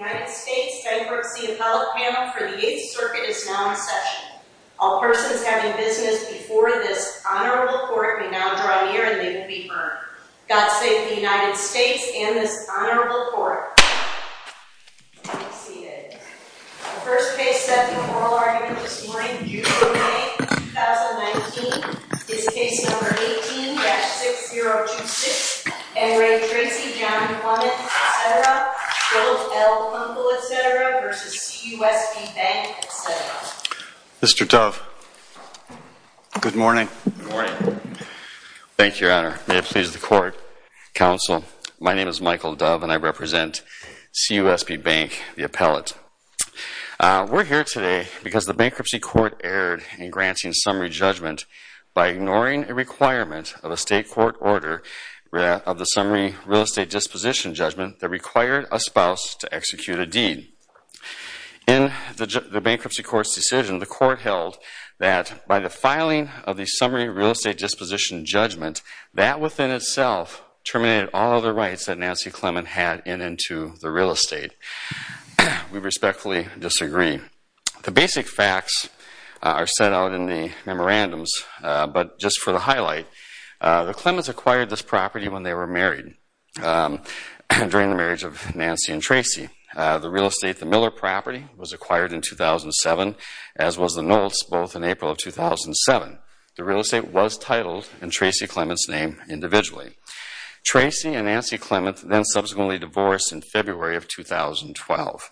United States Bankruptcy Appellate Panel for the 8th Circuit is now in session. All persons having business before this honorable court may now draw near and they may be heard. God save the United States and this honorable court. The first case set in oral argument this morning, June 8, 2019, is case number 18-6026. N. Ray Tracy, John Clements, etc. Bill L. Kunkel, etc. v. CUSB Bank, etc. Mr. Dove. Good morning. Good morning. Thank you, your honor. May it please the court. Counsel, my name is Michael Dove and I represent CUSB Bank, the appellate. We're here today because the bankruptcy court erred in granting summary judgment by ignoring a requirement of a state court order of the summary real estate disposition judgment that required a spouse to execute a deed. In the bankruptcy court's decision, the court held that by the filing of the summary real estate disposition judgment, that within itself terminated all of the rights that Nancy Clements had in and to the real estate. We respectfully disagree. The basic facts are set out in the memorandums, but just for the highlight, the Clements acquired this property when they were married, during the marriage of Nancy and Tracy. The real estate, the Miller property, was acquired in 2007, as was the Knowles, both in April of 2007. The real estate was titled in Tracy Clements' name individually. Tracy and Nancy Clements then subsequently divorced in February of 2012.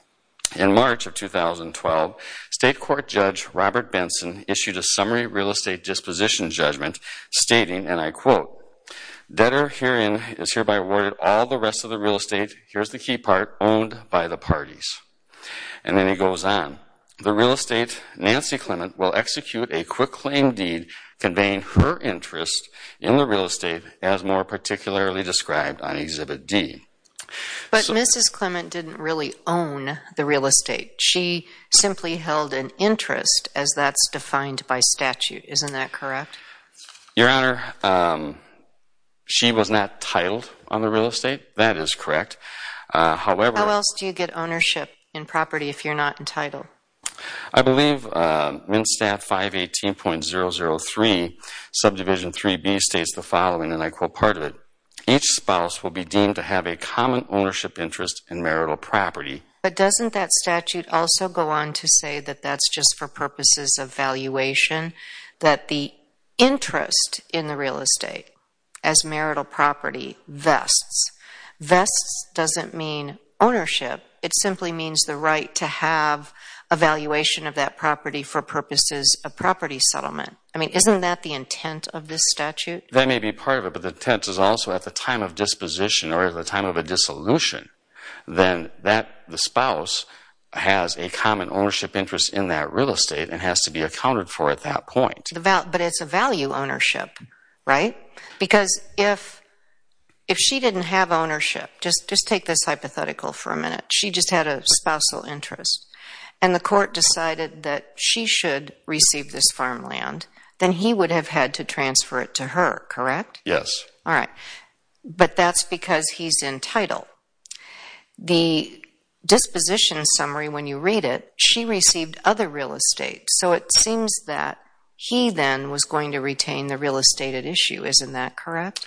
In March of 2012, state court judge Robert Benson issued a summary real estate disposition judgment, stating, and I quote, debtor herein is hereby awarded all the rest of the real estate, here's the key part, owned by the parties. And then he goes on. The real estate, Nancy Clements, will execute a quick claim deed, conveying her interest in the real estate as more particularly described on Exhibit D. But Mrs. Clements didn't really own the real estate. She simply held an interest, as that's defined by statute. Isn't that correct? Your Honor, she was not titled on the real estate. That is correct. How else do you get ownership in property if you're not entitled? I believe MnSTAT 518.003, subdivision 3B, states the following, and I quote part of it. Each spouse will be deemed to have a common ownership interest in marital property. But doesn't that statute also go on to say that that's just for purposes of valuation, that the interest in the real estate as marital property vests, vests doesn't mean ownership. It simply means the right to have a valuation of that property for purposes of property settlement. I mean, isn't that the intent of this statute? That may be part of it, but the intent is also at the time of disposition or at the time of a dissolution, then the spouse has a common ownership interest in that real estate and has to be accounted for at that point. But it's a value ownership, right? Because if she didn't have ownership, just take this hypothetical for a minute. She just had a spousal interest, and the court decided that she should receive this farmland, then he would have had to transfer it to her, correct? Yes. All right. But that's because he's entitled. The disposition summary, when you read it, she received other real estate. So it seems that he then was going to retain the real estate at issue. Isn't that correct?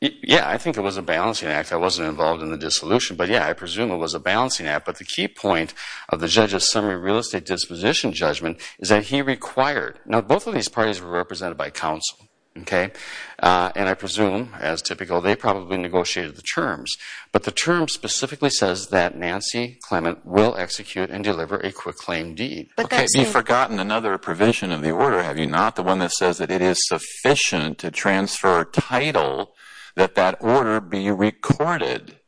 Yeah. I think it was a balancing act. I wasn't involved in the dissolution. But, yeah, I presume it was a balancing act. But the key point of the judge's summary real estate disposition judgment is that he required. Now, both of these parties were represented by counsel, okay? And I presume, as typical, they probably negotiated the terms. But the term specifically says that Nancy Clement will execute and deliver a quick claim deed. Okay. You've forgotten another provision of the order, have you not? The one that says that it is sufficient to transfer title that that order be recorded,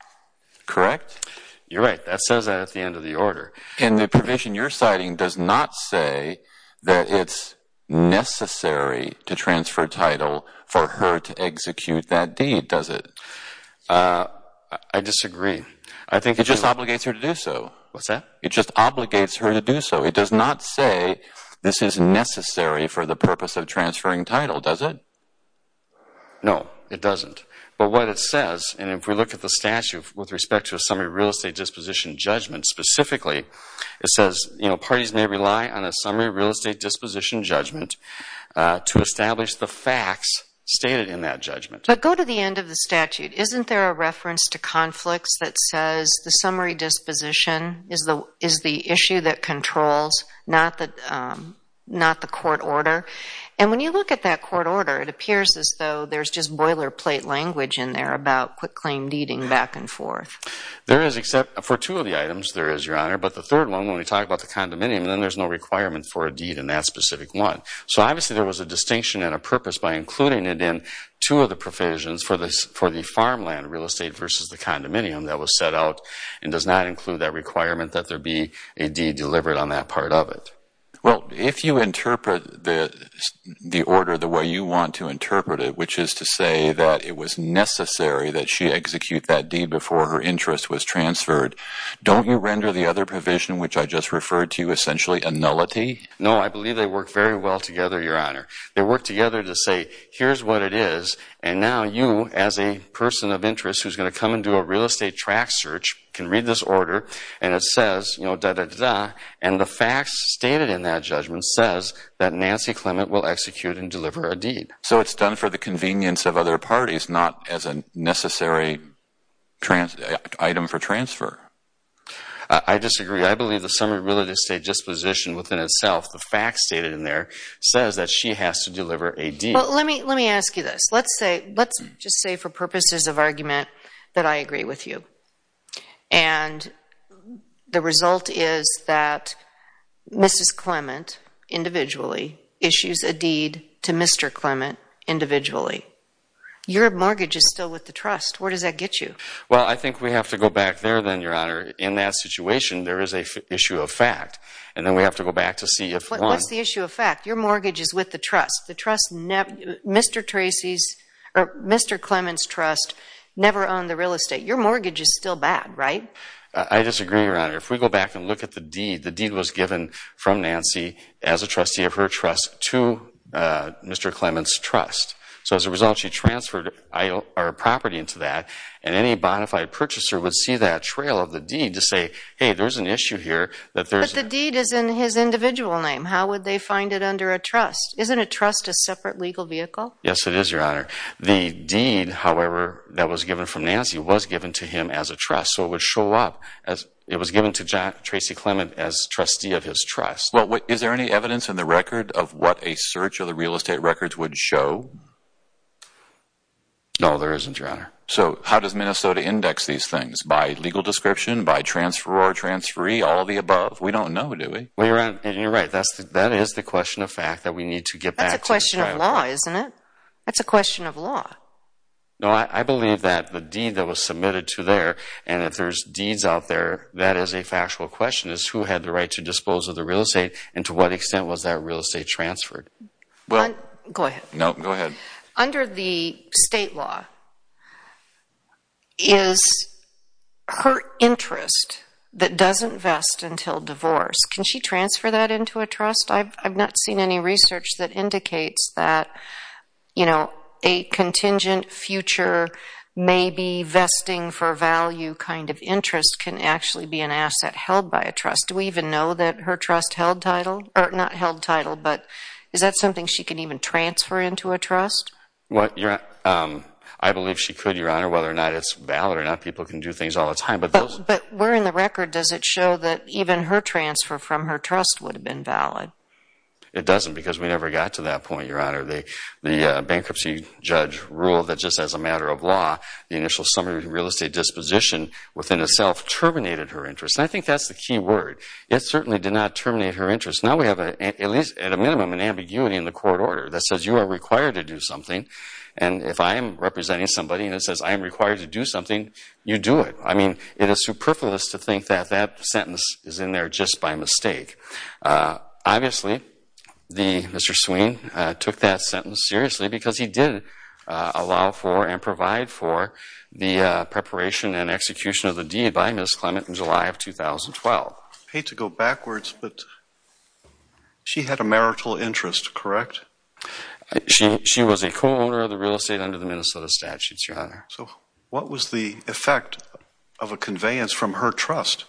correct? You're right. That says that at the end of the order. And the provision you're citing does not say that it's necessary to transfer title for her to execute that deed, does it? I disagree. It just obligates her to do so. What's that? It just obligates her to do so. It does not say this is necessary for the purpose of transferring title, does it? No, it doesn't. But what it says, and if we look at the statute with respect to a summary real estate disposition judgment specifically, it says parties may rely on a summary real estate disposition judgment to establish the facts stated in that judgment. But go to the end of the statute. Isn't there a reference to conflicts that says the summary disposition is the issue that controls, not the court order? And when you look at that court order, it appears as though there's just boilerplate language in there about quick claim deeding back and forth. There is, except for two of the items, there is, Your Honor. But the third one, when we talk about the condominium, then there's no requirement for a deed in that specific one. So obviously there was a distinction and a purpose by including it in two of the provisions for the farmland real estate versus the condominium that was set out and does not include that requirement that there be a deed delivered on that part of it. Well, if you interpret the order the way you want to interpret it, which is to say that it was necessary that she execute that deed before her interest was transferred, don't you render the other provision, which I just referred to, essentially a nullity? No, I believe they work very well together, Your Honor. They work together to say, here's what it is, and now you, as a person of interest who's going to come and do a real estate track search, can read this order, and it says, you know, da-da-da-da, and the facts stated in that judgment says that Nancy Clement will execute and deliver a deed. So it's done for the convenience of other parties, not as a necessary item for transfer? I disagree. I believe the summary of real estate disposition within itself, the facts stated in there, says that she has to deliver a deed. Well, let me ask you this. Let's just say for purposes of argument that I agree with you, and the result is that Mrs. Clement individually issues a deed to Mr. Clement individually. Your mortgage is still with the trust. Where does that get you? Well, I think we have to go back there, then, Your Honor. In that situation, there is an issue of fact, and then we have to go back to see if one— What's the issue of fact? Your mortgage is with the trust. The trust—Mr. Clement's trust never owned the real estate. Your mortgage is still bad, right? I disagree, Your Honor. If we go back and look at the deed, the deed was given from Nancy as a trustee of her trust to Mr. Clement's trust. So as a result, she transferred our property into that, and any bonafide purchaser would see that trail of the deed to say, hey, there's an issue here that there's— But the deed is in his individual name. How would they find it under a trust? Isn't a trust a separate legal vehicle? Yes, it is, Your Honor. The deed, however, that was given from Nancy was given to him as a trust, so it would show up. It was given to Tracy Clement as trustee of his trust. Well, is there any evidence in the record of what a search of the real estate records would show? No, there isn't, Your Honor. So how does Minnesota index these things? By legal description? By transfer or transferee? All of the above? We don't know, do we? Well, you're right. That is the question of fact that we need to get back to the trial. That's a question of law, isn't it? That's a question of law. No, I believe that the deed that was submitted to there, and if there's deeds out there, that is a factual question is who had the right to dispose of the real estate and to what extent was that real estate transferred? Go ahead. No, go ahead. Under the state law, is her interest that doesn't vest until divorce, can she transfer that into a trust? I've not seen any research that indicates that, you know, a contingent future, maybe vesting for value kind of interest can actually be an asset held by a trust. Do we even know that her trust held title? Or not held title, but is that something she can even transfer into a trust? I believe she could, Your Honor. Whether or not it's valid or not, people can do things all the time. But where in the record does it show that even her transfer from her trust would have been valid? It doesn't because we never got to that point, Your Honor. The bankruptcy judge ruled that just as a matter of law, the initial summary of the real estate disposition within itself terminated her interest. And I think that's the key word. It certainly did not terminate her interest. Now we have, at least at a minimum, an ambiguity in the court order that says you are required to do something, and if I am representing somebody and it says I am required to do something, you do it. I mean, it is superfluous to think that that sentence is in there just by mistake. Obviously, Mr. Sweene took that sentence seriously because he did allow for and provide for the preparation and execution of the deed by Ms. Clement in July of 2012. I hate to go backwards, but she had a marital interest, correct? She was a co-owner of the real estate under the Minnesota statutes, Your Honor. So what was the effect of a conveyance from her trust?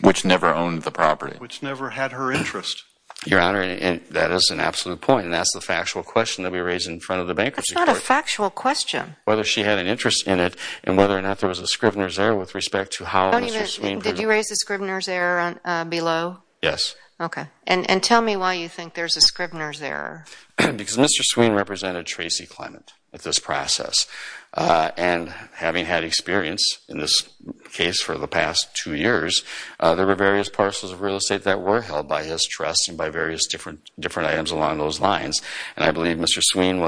Which never owned the property. Which never had her interest. Your Honor, that is an absolute point, and that's the factual question that we raise in front of the bankruptcy court. That's not a factual question. Whether she had an interest in it and whether or not there was a Scrivener's error with respect to how Mr. Sweene presented it. Did you raise the Scrivener's error below? Yes. Okay. And tell me why you think there's a Scrivener's error. Because Mr. Sweene represented Tracy Clement at this process, and having had experience in this case for the past two years, there were various parcels of real estate that were held by his trust and by various different items along those lines, and I believe Mr. Sweene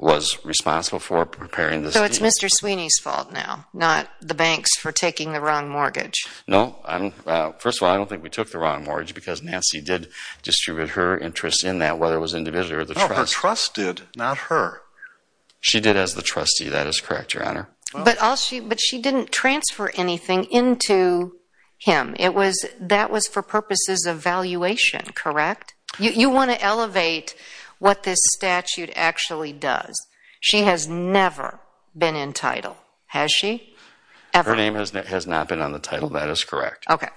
was responsible for preparing this deed. So it's Mr. Sweeney's fault now, not the bank's for taking the wrong mortgage? No. First of all, I don't think we took the wrong mortgage because Nancy did distribute her interest in that, whether it was individually or the trust. No, her trust did, not her. She did as the trustee. That is correct, Your Honor. But she didn't transfer anything into him. That was for purposes of valuation, correct? You want to elevate what this statute actually does. She has never been in title. Has she? Ever. Her name has not been on the title. That is correct. Okay.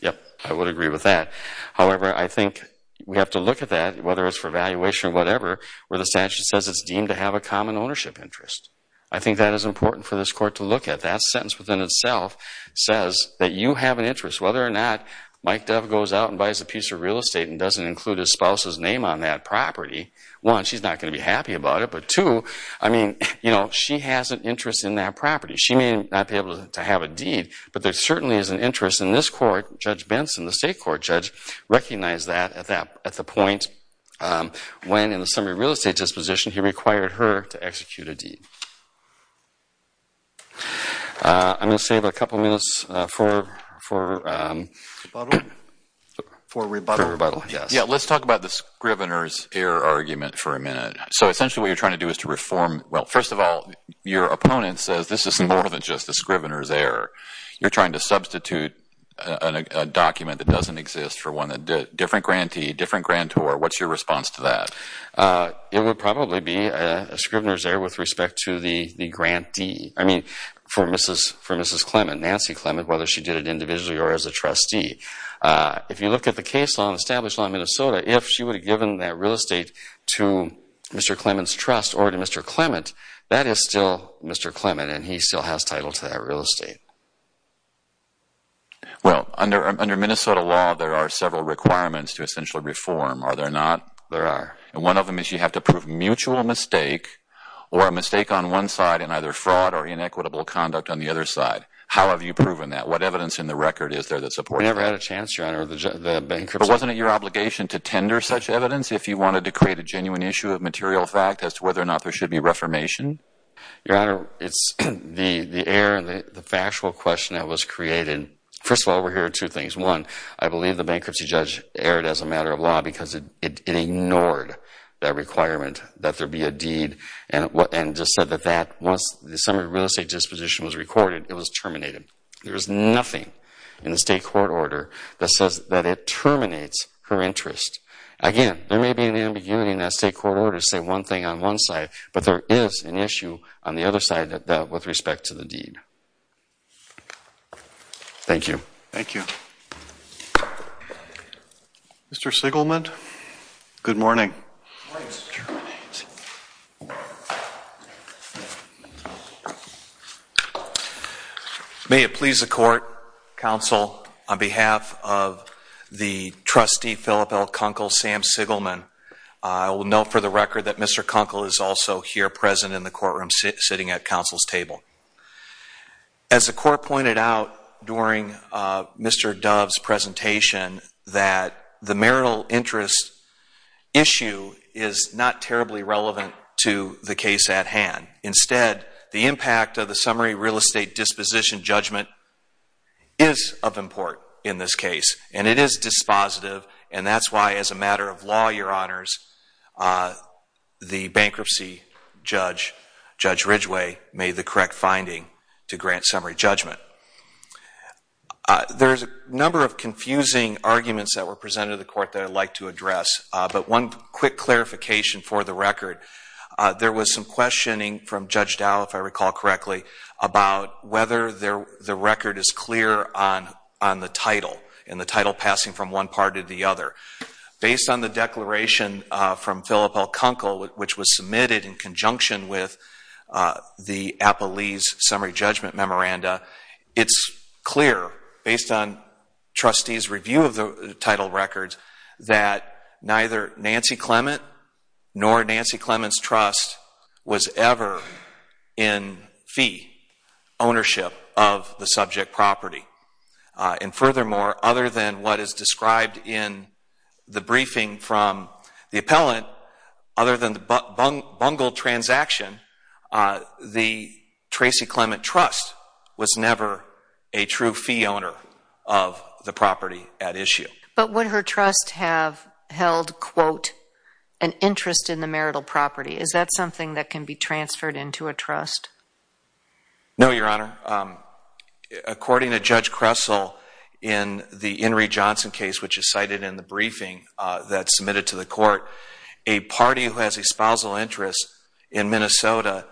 Yep. I would agree with that. However, I think we have to look at that, whether it's for valuation or whatever, where the statute says it's deemed to have a common ownership interest. I think that is important for this Court to look at. That sentence within itself says that you have an interest. Whether or not Mike Dove goes out and buys a piece of real estate and doesn't include his spouse's name on that property, one, she's not going to be happy about it, but two, I mean, you know, she has an interest in that property. She may not be able to have a deed, but there certainly is an interest in this Court. Judge Benson, the state court judge, recognized that at the point when, in the summary of real estate disposition, he required her to execute a deed. I'm going to save a couple minutes for rebuttal. Yeah, let's talk about the Scrivener's error argument for a minute. So essentially what you're trying to do is to reform, well, first of all, your opponent says this is more than just a Scrivener's error. You're trying to substitute a document that doesn't exist for a different grantee, different grantor. What's your response to that? It would probably be a Scrivener's error with respect to the grantee. I mean, for Mrs. Clement, Nancy Clement, whether she did it individually or as a trustee. If you look at the case law and established law in Minnesota, if she would have given that real estate to Mr. Clement's trust or to Mr. Clement, that is still Mr. Clement, and he still has title to that real estate. Well, under Minnesota law, there are several requirements to essentially reform. Are there not? There are. And one of them is you have to prove mutual mistake or a mistake on one side and either fraud or inequitable conduct on the other side. How have you proven that? What evidence in the record is there that supports that? We never had a chance, Your Honor. But wasn't it your obligation to tender such evidence if you wanted to create a genuine issue of material fact as to whether or not there should be reformation? Your Honor, it's the error and the factual question that was created. First of all, we're hearing two things. One, I believe the bankruptcy judge erred as a matter of law because it ignored that requirement that there be a deed and just said that once the summary of real estate disposition was recorded, it was terminated. There is nothing in the state court order that says that it terminates her interest. Again, there may be an ambiguity in that state court order to say one thing on one side, but there is an issue on the other side of that with respect to the deed. Thank you. Thank you. Mr. Sigelman? Good morning. Good morning, Mr. Chairman. May it please the court, counsel, on behalf of the trustee, Phillip L. Kunkel, Sam Sigelman, I will note for the record that Mr. Kunkel is also here present in the courtroom sitting at counsel's table. As the court pointed out during Mr. Dove's presentation, that the marital interest issue is not terribly relevant to the case at hand. Instead, the impact of the summary real estate disposition judgment is of import in this case, and it is dispositive, and that's why as a matter of law, Your Honors, the bankruptcy judge, Judge Ridgway, made the correct finding to grant summary judgment. There's a number of confusing arguments that were presented to the court that I'd like to address, but one quick clarification for the record. There was some questioning from Judge Dow, if I recall correctly, about whether the record is clear on the title and the title passing from one part to the other. Based on the declaration from Phillip L. Kunkel, which was submitted in conjunction with the Appalese Summary Judgment Memoranda, it's clear, based on trustees' review of the title records, that neither Nancy Clement nor Nancy Clement's trust was ever in fee ownership of the subject property. And furthermore, other than what is described in the briefing from the appellant, other than the bungled transaction, the Tracy Clement trust was never a true fee owner of the property at issue. But would her trust have held, quote, an interest in the marital property? Is that something that can be transferred into a trust? No, Your Honor. According to Judge Kressel in the Enri Johnson case, which is cited in the briefing that's submitted to the court, a party who has a spousal interest in Minnesota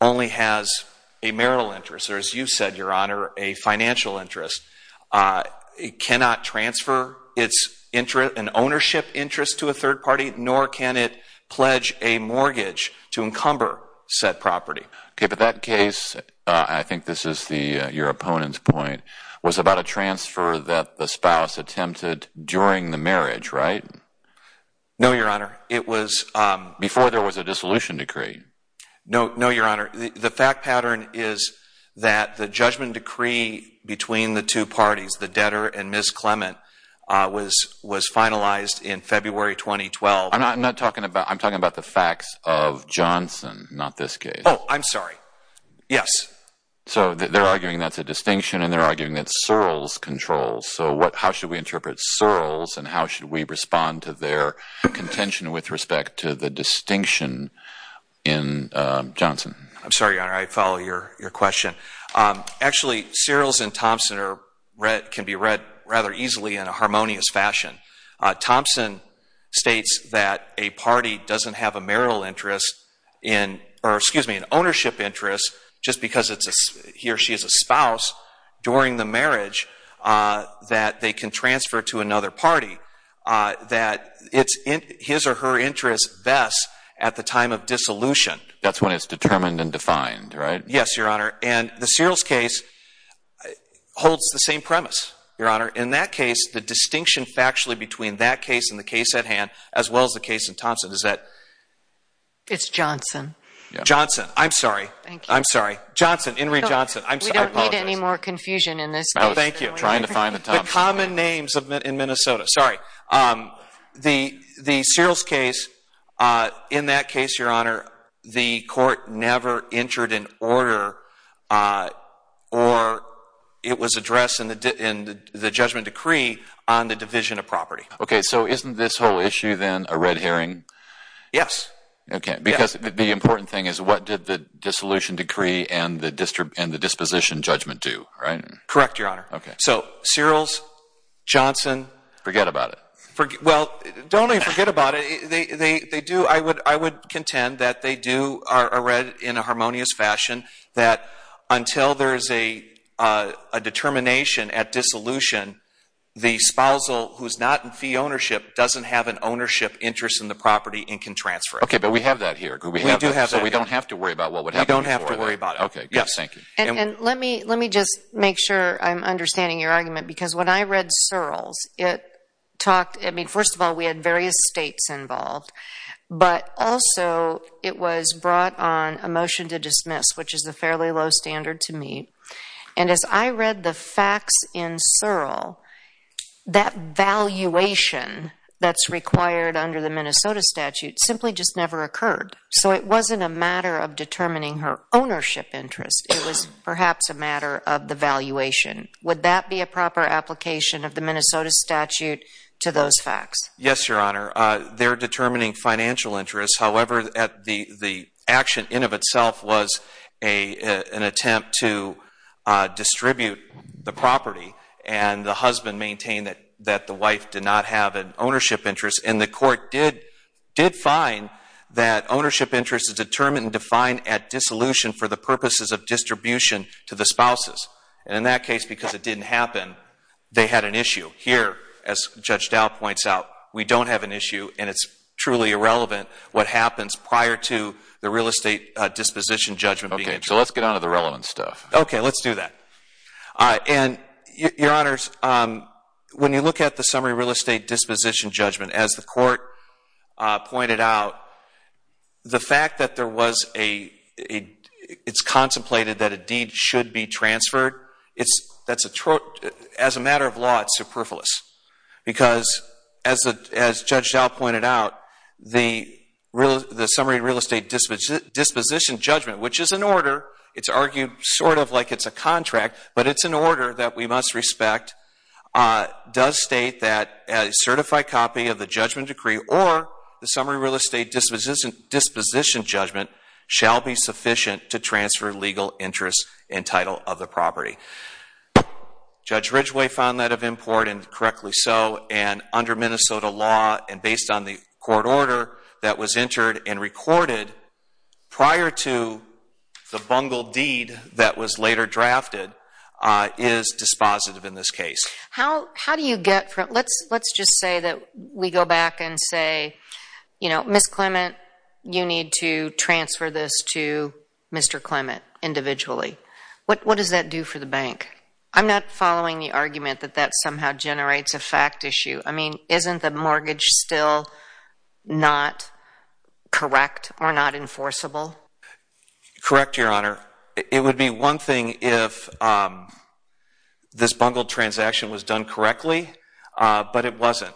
only has a marital interest, or as you said, Your Honor, a financial interest. It cannot transfer its ownership interest to a third party, nor can it pledge a mortgage to encumber said property. Okay, but that case, I think this is your opponent's point, was about a transfer that the spouse attempted during the marriage, right? No, Your Honor. Before there was a dissolution decree? No, Your Honor. The fact pattern is that the judgment decree between the two parties, the debtor and Ms. Clement, was finalized in February 2012. I'm talking about the facts of Johnson, not this case. Oh, I'm sorry. Yes. So they're arguing that's a distinction, and they're arguing that Searles controls. So how should we interpret Searles, and how should we respond to their contention with respect to the distinction in Johnson? I'm sorry, Your Honor. I follow your question. Actually, Searles and Thompson can be read rather easily in a harmonious fashion. Thompson states that a party doesn't have a marital interest in or, excuse me, an ownership interest just because he or she is a spouse during the marriage, that they can transfer to another party, that it's his or her interest best at the time of dissolution. That's when it's determined and defined, right? Yes, Your Honor. In that case, the distinction factually between that case and the case at hand, as well as the case in Thompson, is that? It's Johnson. Johnson. I'm sorry. Thank you. I'm sorry. Johnson, Henry Johnson. We don't need any more confusion in this case. Thank you. Trying to find the Thompson. The common names in Minnesota. Sorry. The Searles case, in that case, Your Honor, the court never entered an order or it was addressed in the judgment decree on the division of property. Okay. So isn't this whole issue then a red herring? Yes. Okay. Because the important thing is what did the dissolution decree and the disposition judgment do, right? Correct, Your Honor. Okay. So Searles, Johnson. Forget about it. Well, don't even forget about it. I would contend that they do are read in a harmonious fashion, that until there is a determination at dissolution, the spousal who is not in fee ownership doesn't have an ownership interest in the property and can transfer it. Okay. But we have that here. We do have that. So we don't have to worry about what would happen. We don't have to worry about it. Okay. Good. Thank you. And let me just make sure I'm understanding your argument because when I read involved, but also it was brought on a motion to dismiss, which is a fairly low standard to me. And as I read the facts in Searle, that valuation that's required under the Minnesota statute simply just never occurred. So it wasn't a matter of determining her ownership interest. It was perhaps a matter of the valuation. Would that be a proper application of the Minnesota statute to those facts? Yes, Your Honor. They're determining financial interests. However, the action in of itself was an attempt to distribute the property. And the husband maintained that the wife did not have an ownership interest. And the court did find that ownership interest is determined and defined at dissolution for the purposes of distribution to the spouses. And in that case, because it didn't happen, they had an issue. Here, as Judge Dowd points out, we don't have an issue. And it's truly irrelevant what happens prior to the real estate disposition judgment being introduced. Okay. So let's get on to the relevant stuff. Okay. Let's do that. And, Your Honors, when you look at the summary real estate disposition judgment, as the court pointed out, the fact that there was a, it's contemplated that a deed should be transferred, as a matter of law, it's superfluous. Because, as Judge Dowd pointed out, the summary real estate disposition judgment, which is an order, it's argued sort of like it's a contract, but it's an order that we must respect, does state that a certified copy of the judgment decree or the summary real estate disposition judgment shall be Judge Ridgway found that of import, and correctly so. And under Minnesota law and based on the court order that was entered and recorded prior to the bungled deed that was later drafted, is dispositive in this case. How do you get from, let's just say that we go back and say, you know, Ms. Clement, you need to transfer this to Mr. Clement individually. What does that do for the bank? I'm not following the argument that that somehow generates a fact issue. I mean, isn't the mortgage still not correct or not enforceable? Correct, Your Honor. It would be one thing if this bungled transaction was done correctly, but it wasn't.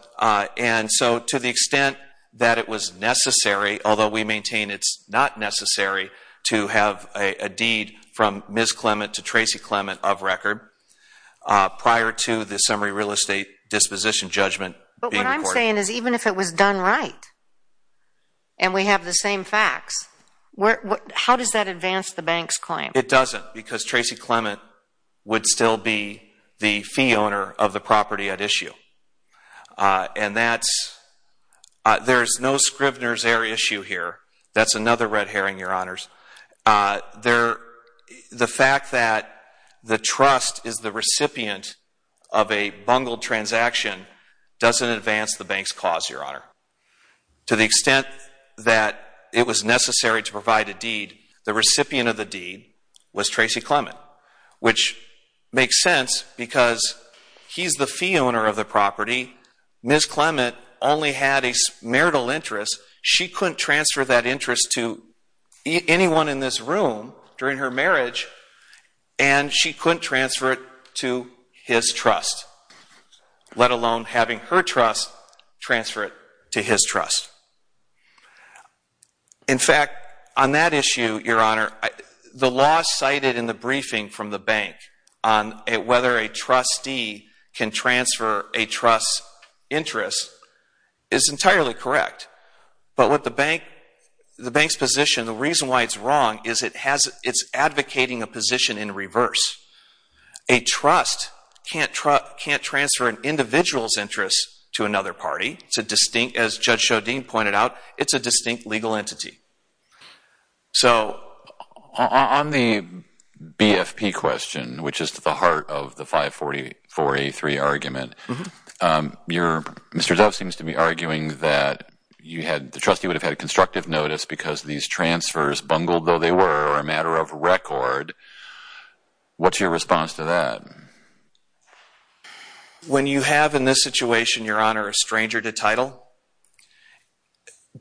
And so, to the extent that it was necessary, although we maintain it's not necessary, to have a deed from Ms. Clement to Tracy Clement of record prior to the summary real estate disposition judgment being recorded. But what I'm saying is even if it was done right and we have the same facts, how does that advance the bank's claim? It doesn't, because Tracy Clement would still be the fee owner of the property at issue. And that's, there's no Scribner's error issue here. That's another red herring, Your Honors. The fact that the trust is the recipient of a bungled transaction doesn't advance the bank's cause, Your Honor. To the extent that it was necessary to provide a deed, the recipient of the deed was Tracy Clement, which makes sense because he's the fee owner of the property. Ms. Clement only had a marital interest. She couldn't transfer that interest to anyone in this room during her marriage, and she couldn't transfer it to his trust, let alone having her trust transfer it to his trust. In fact, on that issue, Your Honor, the law cited in the briefing from the bank on whether a trustee can transfer a trust's interest is entirely correct. But what the bank, the bank's position, the reason why it's wrong is it has, it's advocating a position in reverse. A trust can't transfer an individual's interest to another party. It's a distinct, as Judge Shodin pointed out, it's a distinct legal entity. So on the BFP question, which is at the heart of the 544A3 argument, Mr. Dove seems to be arguing that you had, the trustee would have had constructive notice because these transfers, bungled though they were, are a matter of record. What's your response to that? When you have in this situation, Your Honor, a stranger to title,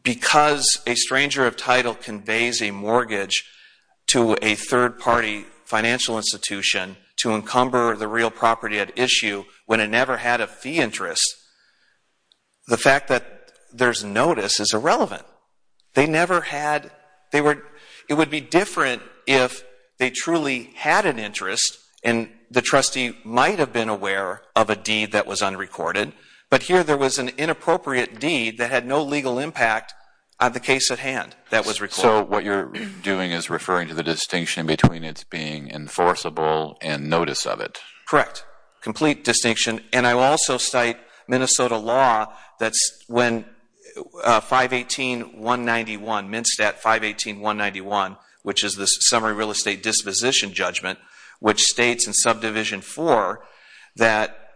because a stranger of title conveys a mortgage to a third party financial institution to encumber the real property at issue when it never had a fee interest, the fact that there's notice is irrelevant. They never had, they were, it would be different if they truly had an interest and the trustee might have been aware of a deed that was unrecorded, but here there was an inappropriate deed that had no legal impact on the case at hand that was recorded. So what you're doing is referring to the distinction between its being enforceable and notice of it. Correct. Complete distinction. And I will also cite Minnesota law that's when 518.191, MnSTAT 518.191, which is the Summary Real Estate Disposition Judgment, which states in Subdivision 4 that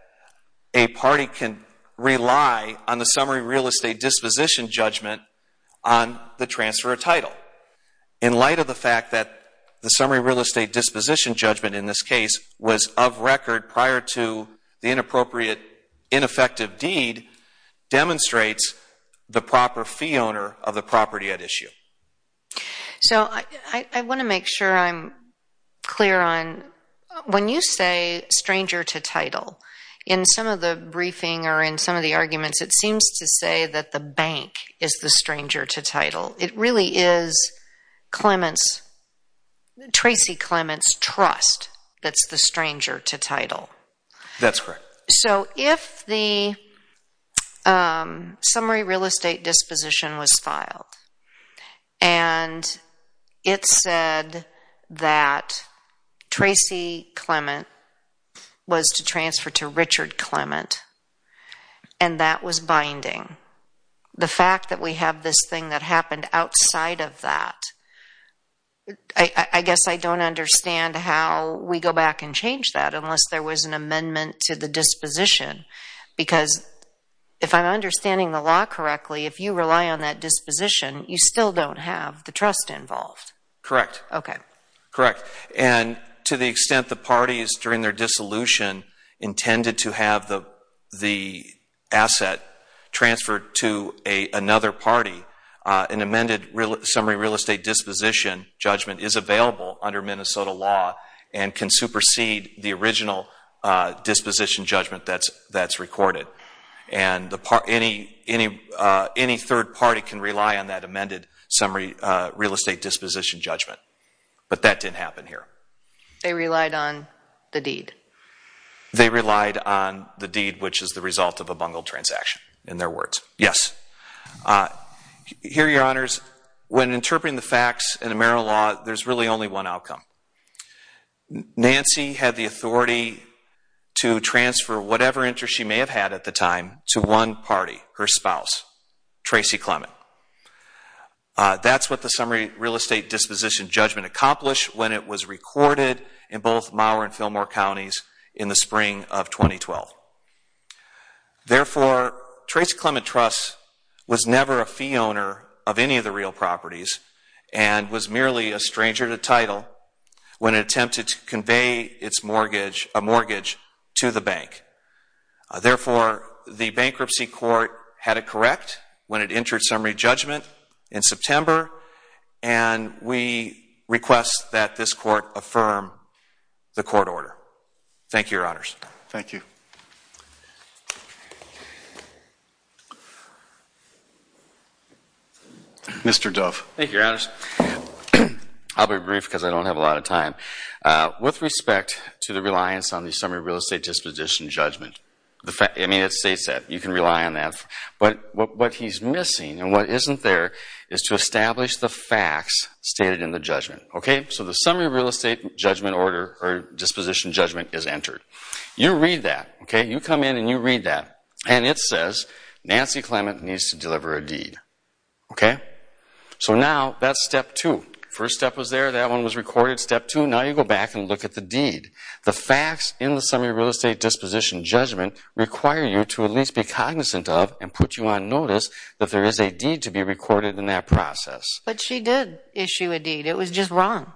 a party can rely on the Summary Real Estate Disposition Judgment on the transfer of title. In light of the fact that the Summary Real Estate Disposition Judgment in this case was of record prior to the inappropriate, ineffective deed, demonstrates the proper fee owner of the property at issue. So I want to make sure I'm clear on, when you say stranger to title, in some of the briefing or in some of the arguments it seems to say that the bank is the stranger to title. It really is Clement's, Tracy Clement's trust that's the stranger to title. That's correct. So if the Summary Real Estate Disposition was filed and it said that Tracy Clement was to transfer to Richard Clement and that was binding, the fact that we have this thing that happened outside of that, I guess I don't understand how we go back and change that unless there was an amendment to the disposition. Because if I'm understanding the law correctly, if you rely on that disposition, you still don't have the trust involved. Correct. Okay. Correct. And to the extent the parties, during their dissolution, intended to have the asset transferred to another party, an amended Summary Real Estate Disposition Judgment is available under Minnesota law and can supersede the original disposition judgment that's recorded. And any third party can rely on that amended Summary Real Estate Disposition Judgment. But that didn't happen here. They relied on the deed. They relied on the deed, which is the result of a bungled transaction, in their words. Yes. Here, Your Honors, when interpreting the facts in the Maryland law, there's really only one outcome. Nancy had the authority to transfer whatever interest she may have had at the time to one party, her spouse, Tracy Clement. That's what the Summary Real Estate Disposition Judgment accomplished when it was recorded in both Maurer and Fillmore counties in the spring of 2012. Therefore, Tracy Clement Trusts was never a fee owner of any of the real properties and was merely a stranger to title when it attempted to convey a mortgage to the bank. Therefore, the Bankruptcy Court had it correct when it entered Summary Judgment in September, and we request that this court affirm the court order. Thank you, Your Honors. Thank you. Mr. Dove. Thank you, Your Honors. I'll be brief because I don't have a lot of time. With respect to the reliance on the Summary Real Estate Disposition Judgment, I mean, it states that. You can rely on that. But what he's missing and what isn't there is to establish the facts stated in the judgment. Okay? So the Summary Real Estate Judgment Order or Disposition Judgment is entered. You read that. Okay? You come in and you read that, and it says Nancy Clement needs to deliver a deed. Okay? So now that's step two. First step was there. That one was recorded. Step two, now you go back and look at the deed. The facts in the Summary Real Estate Disposition Judgment require you to at least be cognizant of But she did issue a deed. It was just wrong.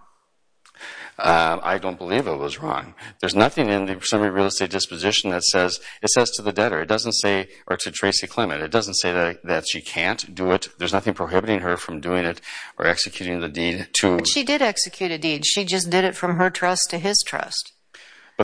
I don't believe it was wrong. There's nothing in the Summary Real Estate Disposition that says, it says to the debtor, it doesn't say, or to Tracy Clement, it doesn't say that she can't do it. There's nothing prohibiting her from doing it or executing the deed to. But she did execute a deed. She just did it from her trust to his trust.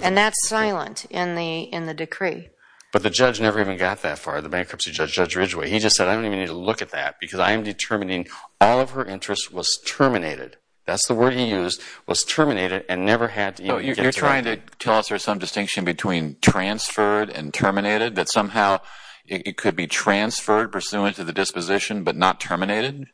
And that's silent in the decree. But the judge never even got that far, the bankruptcy judge, Judge Ridgeway. He just said, I don't even need to look at that because I am determining all of her interest was terminated. That's the word he used, was terminated and never had to even get to it. You're trying to tell us there's some distinction between transferred and terminated, that somehow it could be transferred pursuant to the disposition but not terminated?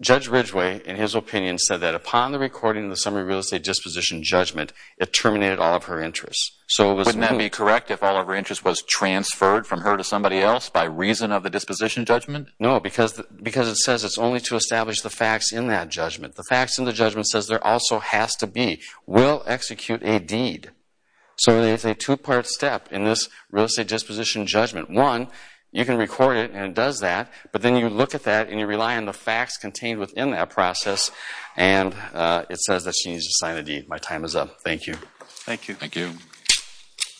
Judge Ridgeway, in his opinion, said that upon the recording of the Summary Real Estate Disposition Judgment, it terminated all of her interest. So wouldn't that be correct if all of her interest was transferred from her to somebody else by reason of the disposition judgment? No, because it says it's only to establish the facts in that judgment. The facts in the judgment says there also has to be, will execute a deed. So it's a two-part step in this real estate disposition judgment. One, you can record it and it does that, but then you look at that and you rely on the facts contained within that process, and it says that she needs to sign the deed. My time is up. Thank you. Thank you.